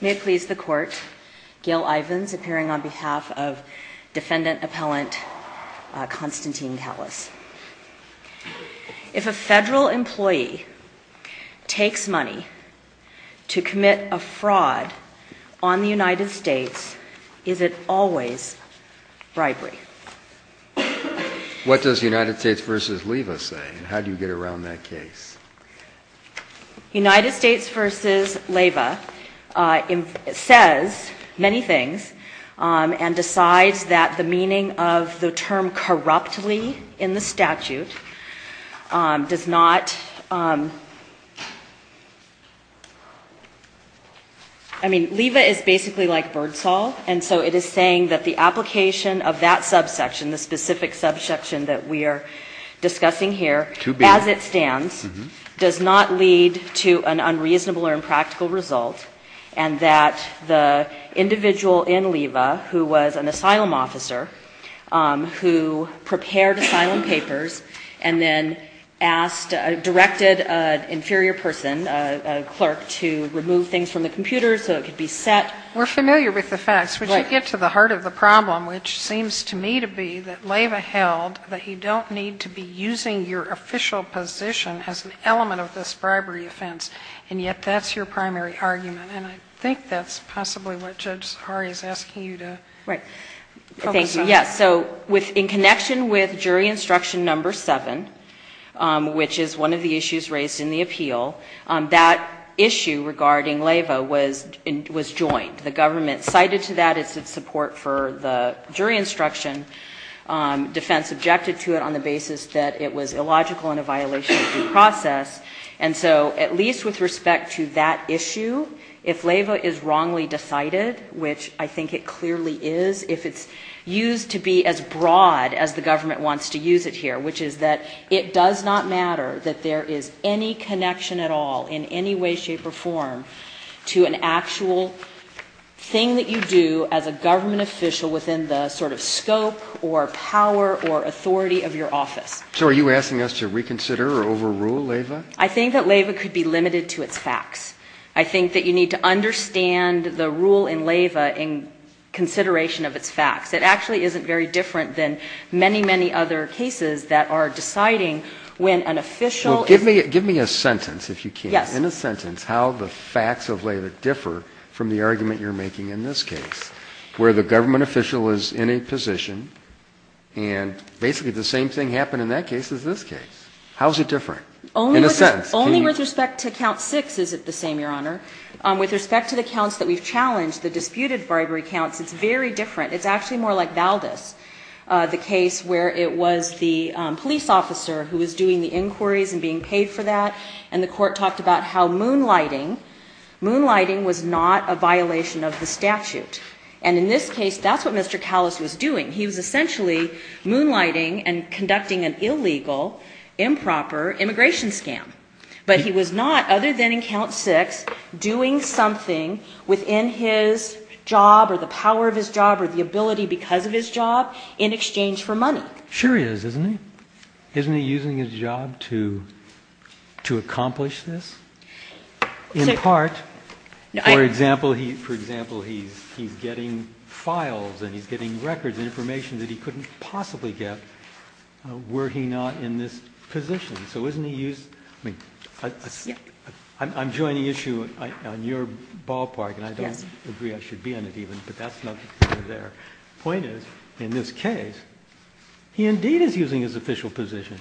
If a federal employee takes money to commit a fraud on the United States, is it always bribery? What does United States v. Leva say, and how do you get around that case? Constantine Kallas United States v. Leva says many things and decides that the meaning of the term corruptly in the statute does not I mean, Leva is basically like Birdsall, and so it is saying that the application of that subsection, the specific subsection that we are discussing here, as it stands, does not lead to an unreasonable or impractical result, and that the individual in Leva, who was an asylum officer, who prepared asylum papers and then asked, directed an inferior person, a clerk, to remove things from the computer so it could be set. Sotomayor We're familiar with the facts, but you get to the heart of the problem, which seems to me to be that Leva held that you don't need to be using your official position as an element of this bribery offense, and yet that's your primary argument. And I think that's possibly what Judge Sahari is asking you to focus on. Constantine Kallas Yes, so in connection with jury instruction number 7, which is one of the issues raised in the appeal, that issue regarding Leva was joined. The government cited to that its support for the jury instruction. Defense objected to it on the basis that it was illogical and a violation of due process. And so, at least with respect to that issue, if Leva is wrongly decided, which I think it clearly is, if it's used to be as broad as the government wants to use it here, which is that it does not matter that there is any connection at all, in any way, shape or form, to an actual thing that you do as a government official within the sort of scope or power or authority of your office. Breyer So are you asking us to reconsider or overrule Leva? Constantine Kallas I think that Leva could be limited to its facts. I think that you need to understand the rule in Leva in consideration of its facts. It actually isn't very different than many, many other cases that are deciding when an official is... Breyer Well, give me a sentence, if you can. Constantine Kallas Yes. Breyer In a sentence, how the facts of Leva differ from the argument you're making in this case, where the government official is in a position and basically the same thing happened in that case as this case. How is it different? In a sentence, can you... The case where it was the police officer who was doing the inquiries and being paid for that, and the court talked about how moonlighting was not a violation of the statute. And in this case, that's what Mr. Kallas was doing. He was essentially moonlighting and conducting an illegal, improper immigration scam. But he was not, other than in count six, doing something within his job or the power of his job or the ability because of his job in exchange for money. Breyer Sure he is, isn't he? Isn't he using his job to accomplish this? In part. For example, he's getting files and he's getting records and information that he couldn't possibly get were he not in this position. So isn't he used... I'm joining issue on your ballpark and I don't agree I should be on it even, but that's not the point there. The point is, in this case, he indeed is using his official position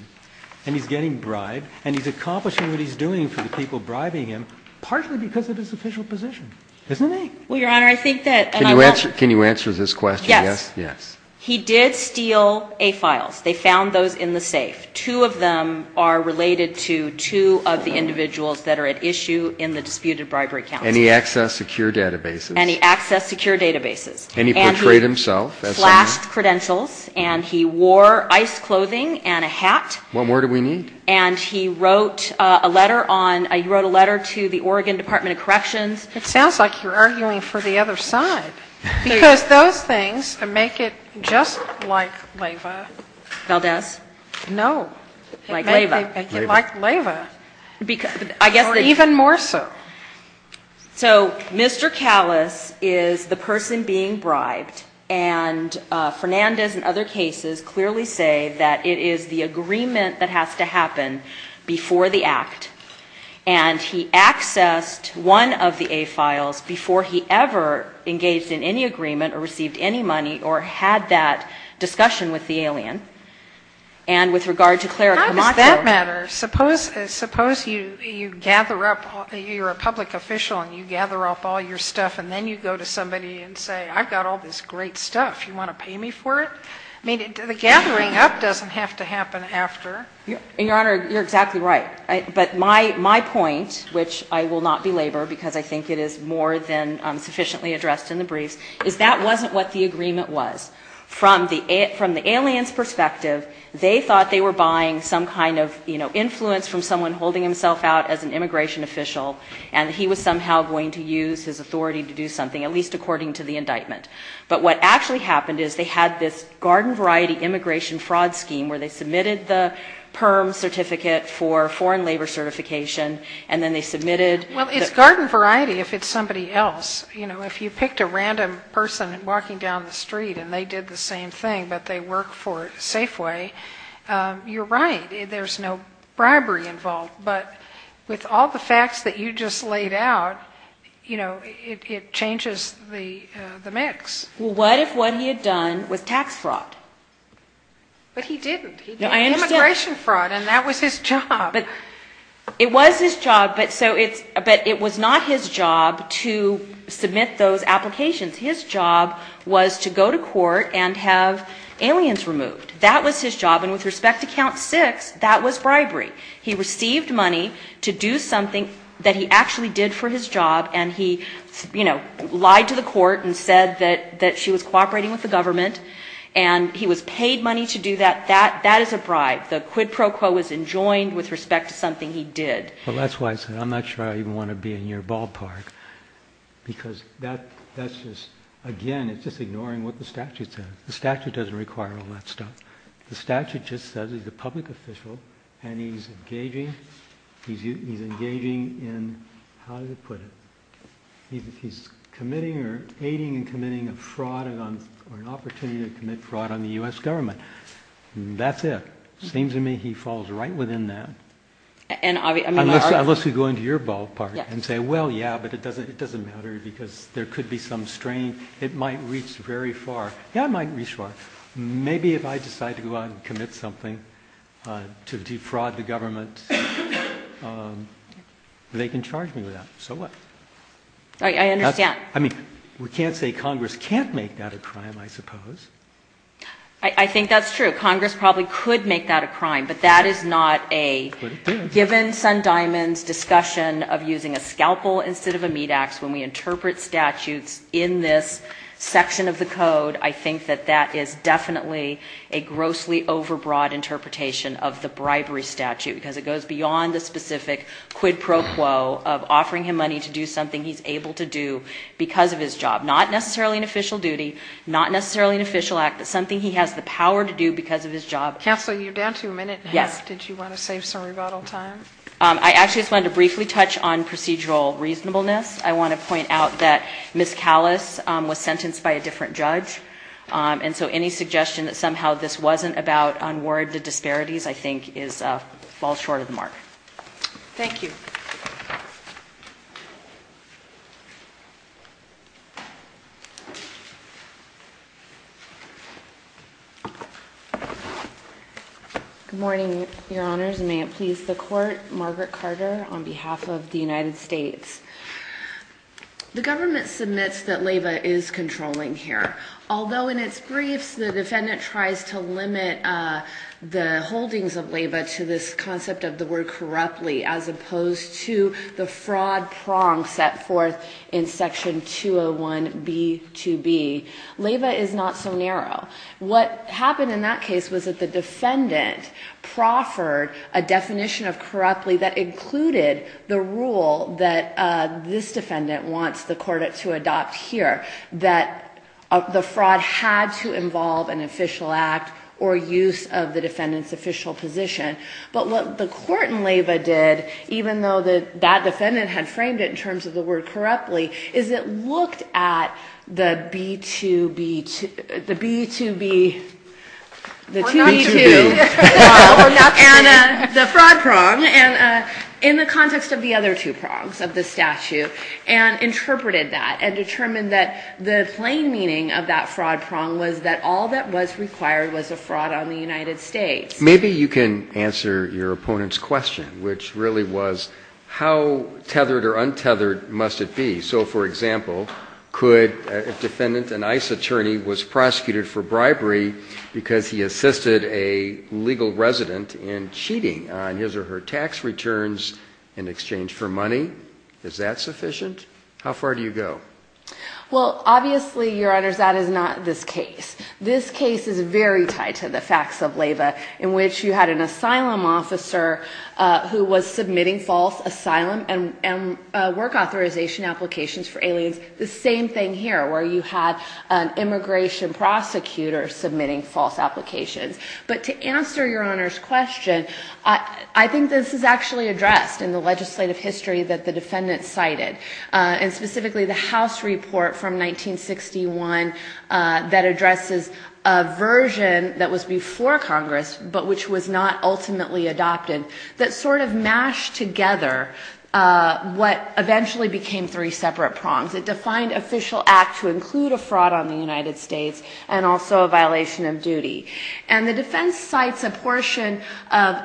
and he's getting bribed and he's accomplishing what he's doing for the people bribing him, partly because of his official position. Isn't he? Can you answer this question? Yes. He did steal A files. They found those in the safe. Two of them are related to two of the individuals that are at issue in the disputed bribery council. And he accessed secure databases. And he accessed secure databases. And he portrayed himself. And he flashed credentials and he wore ice clothing and a hat. What more do we need? And he wrote a letter to the Oregon Department of Corrections. It sounds like you're arguing for the other side. Because those things make it just like Leyva. Valdez? No. Like Leyva. Like Leyva. Or even more so. So Mr. Callis is the person being bribed. And Fernandez and other cases clearly say that it is the agreement that has to happen before the act. And he accessed one of the A files before he ever engaged in any agreement or received any money or had that discussion with the alien. And with regard to Clara Camacho. How does that matter? Suppose you gather up, you're a public official and you gather up all your stuff and then you go to somebody and say, I've got all this great stuff. You want to pay me for it? I mean, the gathering up doesn't have to happen after. Your Honor, you're exactly right. But my point, which I will not belabor because I think it is more than sufficiently addressed in the briefs, is that wasn't what the agreement was. From the alien's perspective, they thought they were buying some kind of influence from someone holding himself out as an immigration official. And he was somehow going to use his authority to do something, at least according to the indictment. But what actually happened is they had this garden variety immigration fraud scheme where they submitted the PIRM certificate for foreign labor certification and then they submitted the... Well, it's garden variety if it's somebody else. You know, if you picked a random person walking down the street and they did the same thing but they work for Safeway, you're right. There's no bribery involved. But with all the facts that you just laid out, you know, it changes the mix. Well, what if what he had done was tax fraud? But he didn't. He did immigration fraud and that was his job. It was his job, but it was not his job to submit those applications. His job was to go to court and have aliens removed. That was his job. And with respect to count six, that was bribery. He received money to do something that he actually did for his job and he, you know, lied to the court and said that she was cooperating with the government and he was paid money to do that. That is a bribe. The quid pro quo was enjoined with respect to something he did. Well, that's why I said I'm not sure I even want to be in your ballpark because that's just, again, it's just ignoring what the statute says. The statute doesn't require all that stuff. The statute just says he's a public official and he's engaging, he's engaging in, how do you put it? He's committing or aiding and committing a fraud or an opportunity to commit fraud on the U.S. government. That's it. Seems to me he falls right within that. Unless you go into your ballpark and say, well, yeah, but it doesn't matter because there could be some strain. It might reach very far. Yeah, it might reach far. Maybe if I decide to go out and commit something to defraud the government, they can charge me with that. So what? I understand. I mean, we can't say Congress can't make that a crime, I suppose. I think that's true. Congress probably could make that a crime, but that is not a, given Sun Diamond's discussion of using a scalpel instead of a meat ax when we interpret statutes in this section of the code. I think that that is definitely a grossly overbroad interpretation of the bribery statute because it goes beyond the specific quid pro quo of offering him money to do something he's able to do because of his job. Not necessarily an official duty, not necessarily an official act, but something he has the power to do because of his job. Counsel, you're down to a minute. Yes. Did you want to save some rebuttal time? I actually just wanted to briefly touch on procedural reasonableness. I want to point out that Ms. Callis was sentenced by a different judge, and so any suggestion that somehow this wasn't about unwarranted disparities I think falls short of the mark. Thank you. Good morning, Your Honors. May it please the Court, Margaret Carter on behalf of the United States. The government submits that LABA is controlling here, although in its briefs the defendant tries to limit the holdings of LABA to this concept of the word corruptly as opposed to the fraud prong set forth in Section 201B2B. LABA is not so narrow. What happened in that case was that the defendant proffered a definition of corruptly that included the rule that this defendant wants the court to adopt here, that the fraud had to involve an official act or use of the defendant's official position. But what the court in LABA did, even though that defendant had framed it in terms of the word corruptly, is it looked at the B2B, the 2B2, the fraud prong in the context of the other two prongs of the statute and interpreted that and determined that the plain meaning of that fraud prong was that all that was required was a fraud on the United States. Maybe you can answer your opponent's question, which really was how tethered or untethered must it be. For example, could a defendant, an ICE attorney, was prosecuted for bribery because he assisted a legal resident in cheating on his or her tax returns in exchange for money? Is that sufficient? How far do you go? Well, obviously, Your Honors, that is not this case. This case is very tied to the facts of LABA in which you had an asylum officer who was submitting false asylum and work authorization applications for aliens. The same thing here where you had an immigration prosecutor submitting false applications. But to answer Your Honor's question, I think this is actually addressed in the legislative history that the defendant cited, and specifically the House report from 1961 that addresses a version that was before Congress, but which was not ultimately adopted, that sort of mashed together what eventually became three separate prongs. It defined official act to include a fraud on the United States and also a violation of duty. And the defense cites a portion of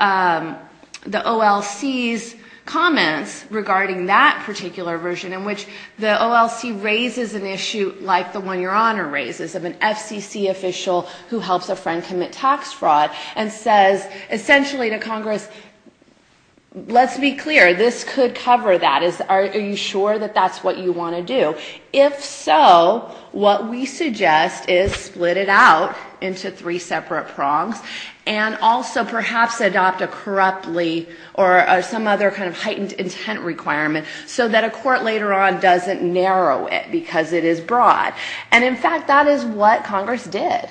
the OLC's comments regarding that particular version in which the OLC raises an issue like the one Your Honor raises of an FCC official who helps a friend commit tax fraud and says essentially to Congress, let's be clear, this could cover that. Are you sure that that's what you want to do? If so, what we suggest is split it out into three separate prongs and also perhaps adopt a corruptly or some other kind of heightened intent requirement so that a court later on doesn't narrow it because it is broad. And in fact, that is what Congress did.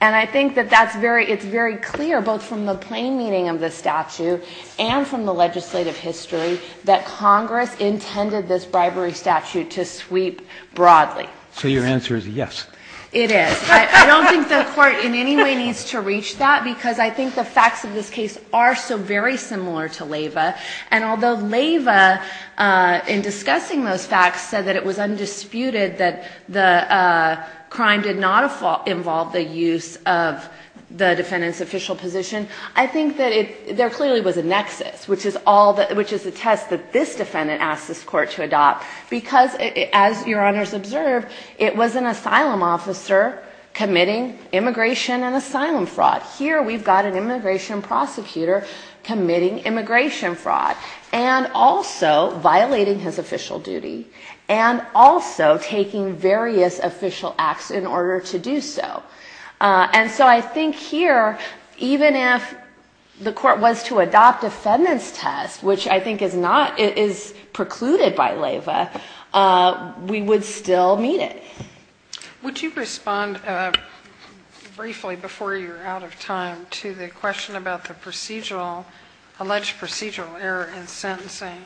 And I think that it's very clear both from the plain meaning of the statute and from the legislative history that Congress intended this bribery statute to sweep broadly. So your answer is yes. It is. I don't think the court in any way needs to reach that because I think the facts of this case are so very similar to Leyva. And although Leyva in discussing those facts said that it was undisputed that the crime did not involve the use of the defendant's official position, I think that there clearly was a nexus, which is the test that this defendant asked this court to adopt because as Your Honors observed, it was an asylum officer committing immigration and asylum fraud. Here we've got an immigration prosecutor committing immigration fraud and also violating his official duty and also taking various official acts in order to do so. And so I think here, even if the court was to adopt a defendant's test, which I think is precluded by Leyva, we would still meet it. Would you respond briefly, before you're out of time, to the question about the procedural, alleged procedural error in sentencing?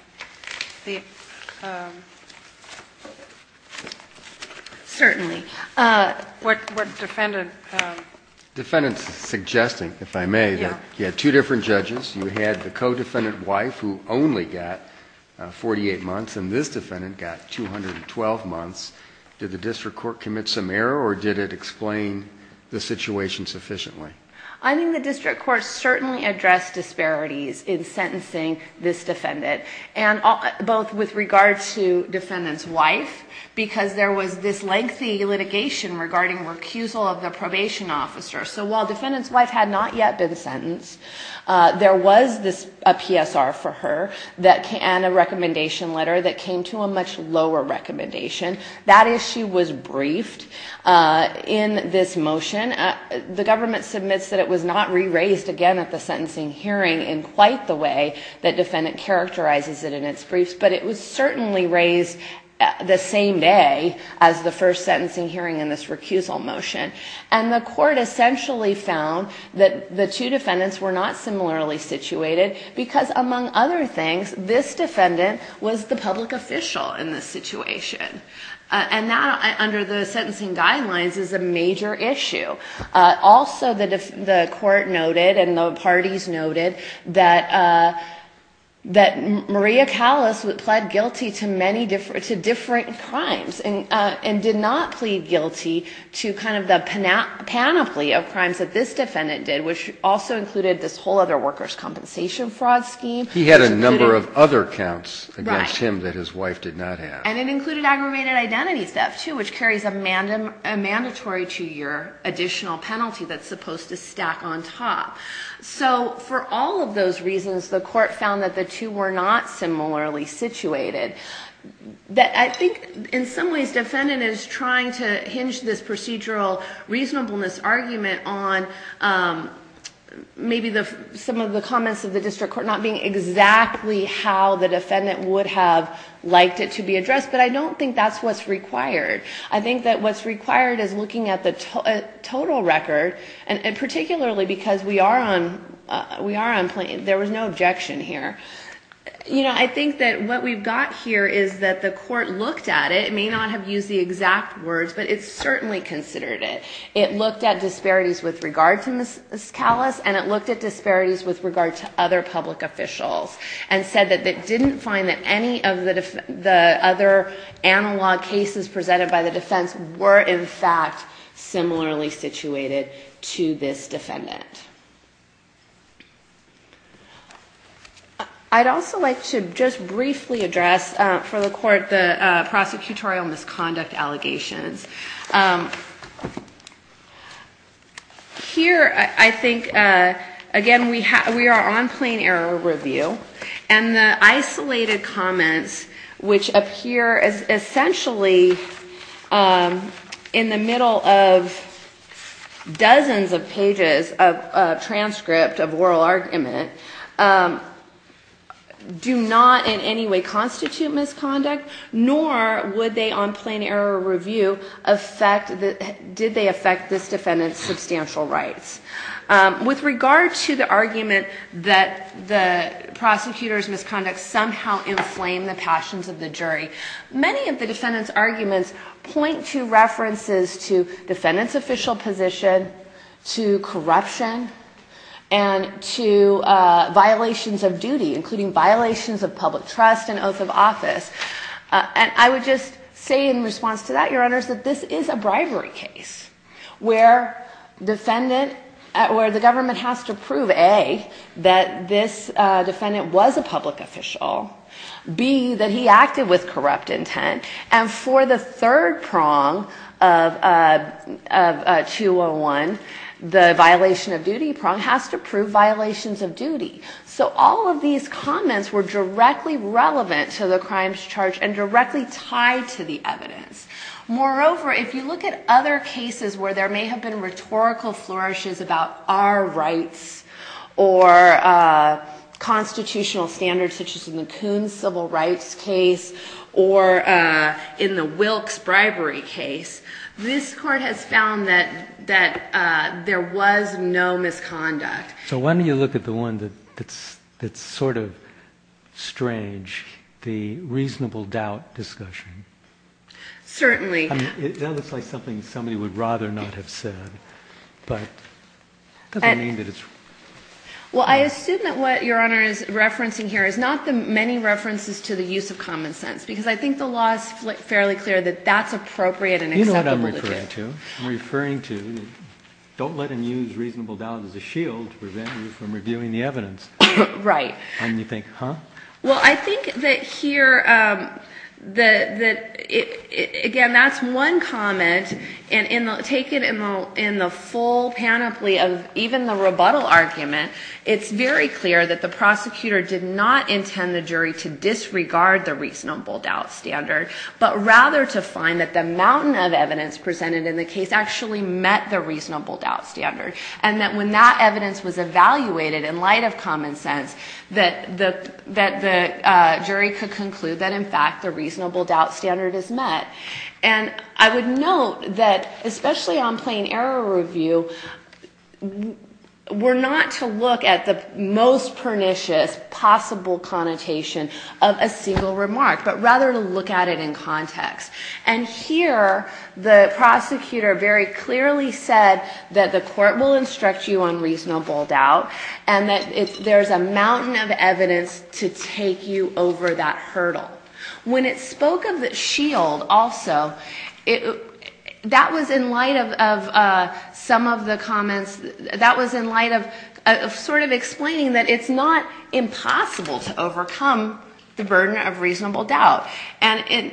Certainly. Defendant's suggesting, if I may, that you had two different judges. You had the co-defendant's wife, who only got 48 months, and this defendant got 212 months. Did the district court commit some error, or did it explain the situation sufficiently? I think the district court certainly addressed disparities in sentencing this defendant, both with regard to defendant's wife, because there was this lengthy litigation regarding recusal of the probation officer. So while defendant's wife had not yet been sentenced, there was a PSR for her and a recommendation letter that came to a much lower recommendation. That issue was briefed in this motion. The government submits that it was not re-raised again at the sentencing hearing in quite the way that defendant characterizes it in its briefs, but it was certainly raised the same day as the first sentencing hearing in this recusal motion. And the court essentially found that the two defendants were not similarly situated because, among other things, this defendant was the public official in this situation. And that, under the sentencing guidelines, is a major issue. Also, the court noted, and the parties noted, that Maria Callas would play a major role and pled guilty to many different, to different crimes and did not plead guilty to kind of the panoply of crimes that this defendant did, which also included this whole other workers' compensation fraud scheme. He had a number of other counts against him that his wife did not have. Right. And it included aggravated identity theft, too, which carries a mandatory two-year additional penalty that's supposed to stack on top. So, for all of those reasons, the court found that the two were not similarly situated. I think, in some ways, defendant is trying to hinge this procedural reasonableness argument on maybe some of the comments of the district court not being exactly how the defendant would have liked it to be addressed, but I don't think that's what's required. I think that what's required is looking at the total record, and particularly because we are on, there was no objection here. You know, I think that what we've got here is that the court looked at it. It may not have used the exact words, but it certainly considered it. It looked at disparities with regard to Ms. Callas, and it looked at disparities with regard to other public officials and said that it didn't find that any of the other analog cases presented by the defense were, in fact, similarly situated to this defendant. I'd also like to just briefly address for the court the prosecutorial misconduct allegations. Here, I think, again, we are on plain error review, and the isolated comments, which appear essentially in the middle of dozens of pages of transcript of oral argument, do not in any way constitute misconduct, nor would they on plain error review affect, did they affect this defendant's substantial rights. With regard to the argument that the prosecutor's misconduct somehow inflamed the passions of the jury, many of the defendant's arguments point to references to defendant's official position, to corruption, and to violations of duty, including violations of public trust and oath of office. And I would just say in response to that, Your Honors, that this is a bribery case, where the government has to prove, A, that this defendant was a public official, B, that he acted with corrupt intent, and for the third prong of 201, the violation of duty prong, has to prove violations of duty. So all of these comments were directly relevant to the crimes charged, and directly tied to the evidence. Moreover, if you look at other cases where there may have been rhetorical flourishes about our rights, or constitutional standards, such as in the Coons Civil Rights case, or in the Wilkes bribery case, this court has found that there was no misconduct. So why don't you look at the one that's sort of strange, the reasonable doubt discussion. Certainly. Well, I assume that what Your Honor is referencing here is not the many references to the use of common sense, because I think the law is fairly clear that that's appropriate and acceptable to do. I'm referring to, don't let him use reasonable doubt as a shield to prevent you from reviewing the evidence. Right. Well, I think that here, again, that's one comment, and take it in the full panoply of even the rebuttal argument, it's very clear that the prosecutor did not intend the jury to disregard the reasonable doubt standard, but rather to find that the mountain of evidence presented in the case actually met the reasonable doubt standard, and that when that evidence was evaluated in light of common sense, that the jury could conclude that, in fact, the reasonable doubt standard is met. And I would note that, especially on plain error review, we're not to look at the most pernicious possible connotation of a single remark, but rather to look at it in context. And here, the prosecutor very clearly said that the court will instruct you on reasonable doubt, and that there's a mountain of evidence to take you over that hurdle. When it spoke of the shield also, that was in light of some of the comments, that was in light of sort of explaining that it's not impossible to overcome the burden of reasonable doubt. And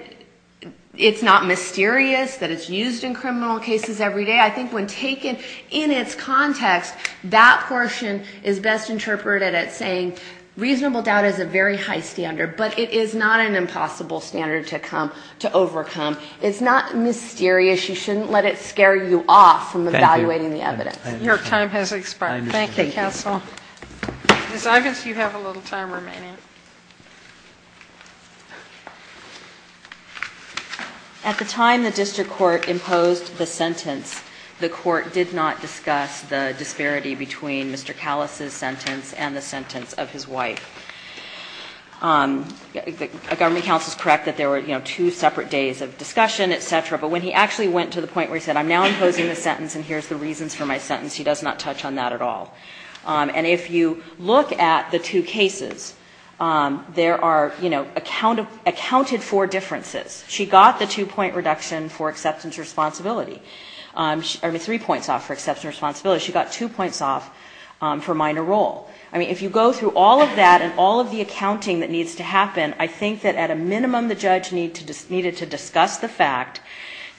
it's not mysterious that it's used in criminal cases every day. I think when taken in its context, that portion is best interpreted as saying reasonable doubt is a very high standard, but it is not an impossible standard to overcome. It's not mysterious. You shouldn't let it scare you off from evaluating the evidence. Your time has expired. Thank you, counsel. Ms. Ivins, you have a little time remaining. At the time the district court imposed the sentence, the court did not discuss the disparity between Mr. Callas' sentence and the sentence of his wife. Government counsel is correct that there were, you know, two separate days of discussion, et cetera, but when he actually went to the point where he said, I'm now imposing the sentence and here's the reasons for my sentence, he does not touch on that at all. And if you look at the two cases, there are, you know, accounted for differences. She got the two-point reduction for acceptance and responsibility, or three points off for acceptance and responsibility. She got two points off for minor role. I mean, if you go through all of that and all of the accounting that needs to happen, I think that at a minimum the judge needed to discuss the fact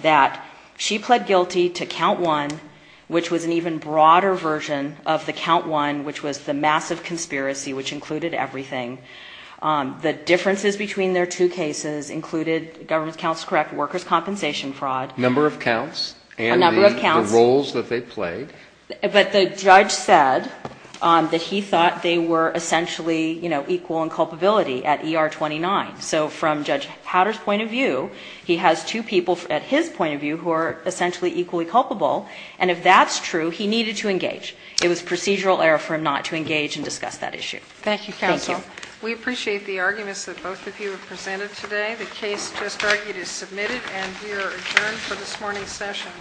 that she pled guilty to count one, which was an even broader version of the count one, which was the massive conspiracy, which included everything. The differences between their two cases included, government counsel is correct, workers' compensation fraud. Number of counts. A number of counts. And the roles that they played. But the judge said that he thought they were essentially, you know, equal in culpability at ER 29. So from Judge Hatter's point of view, he has two people at his point of view who are essentially equally culpable. And if that's true, he needed to engage. It was procedural error for him not to engage and discuss that issue. Thank you, counsel. Thank you. We appreciate the arguments that both of you have presented today. The case just argued is submitted and we are adjourned for this morning's session.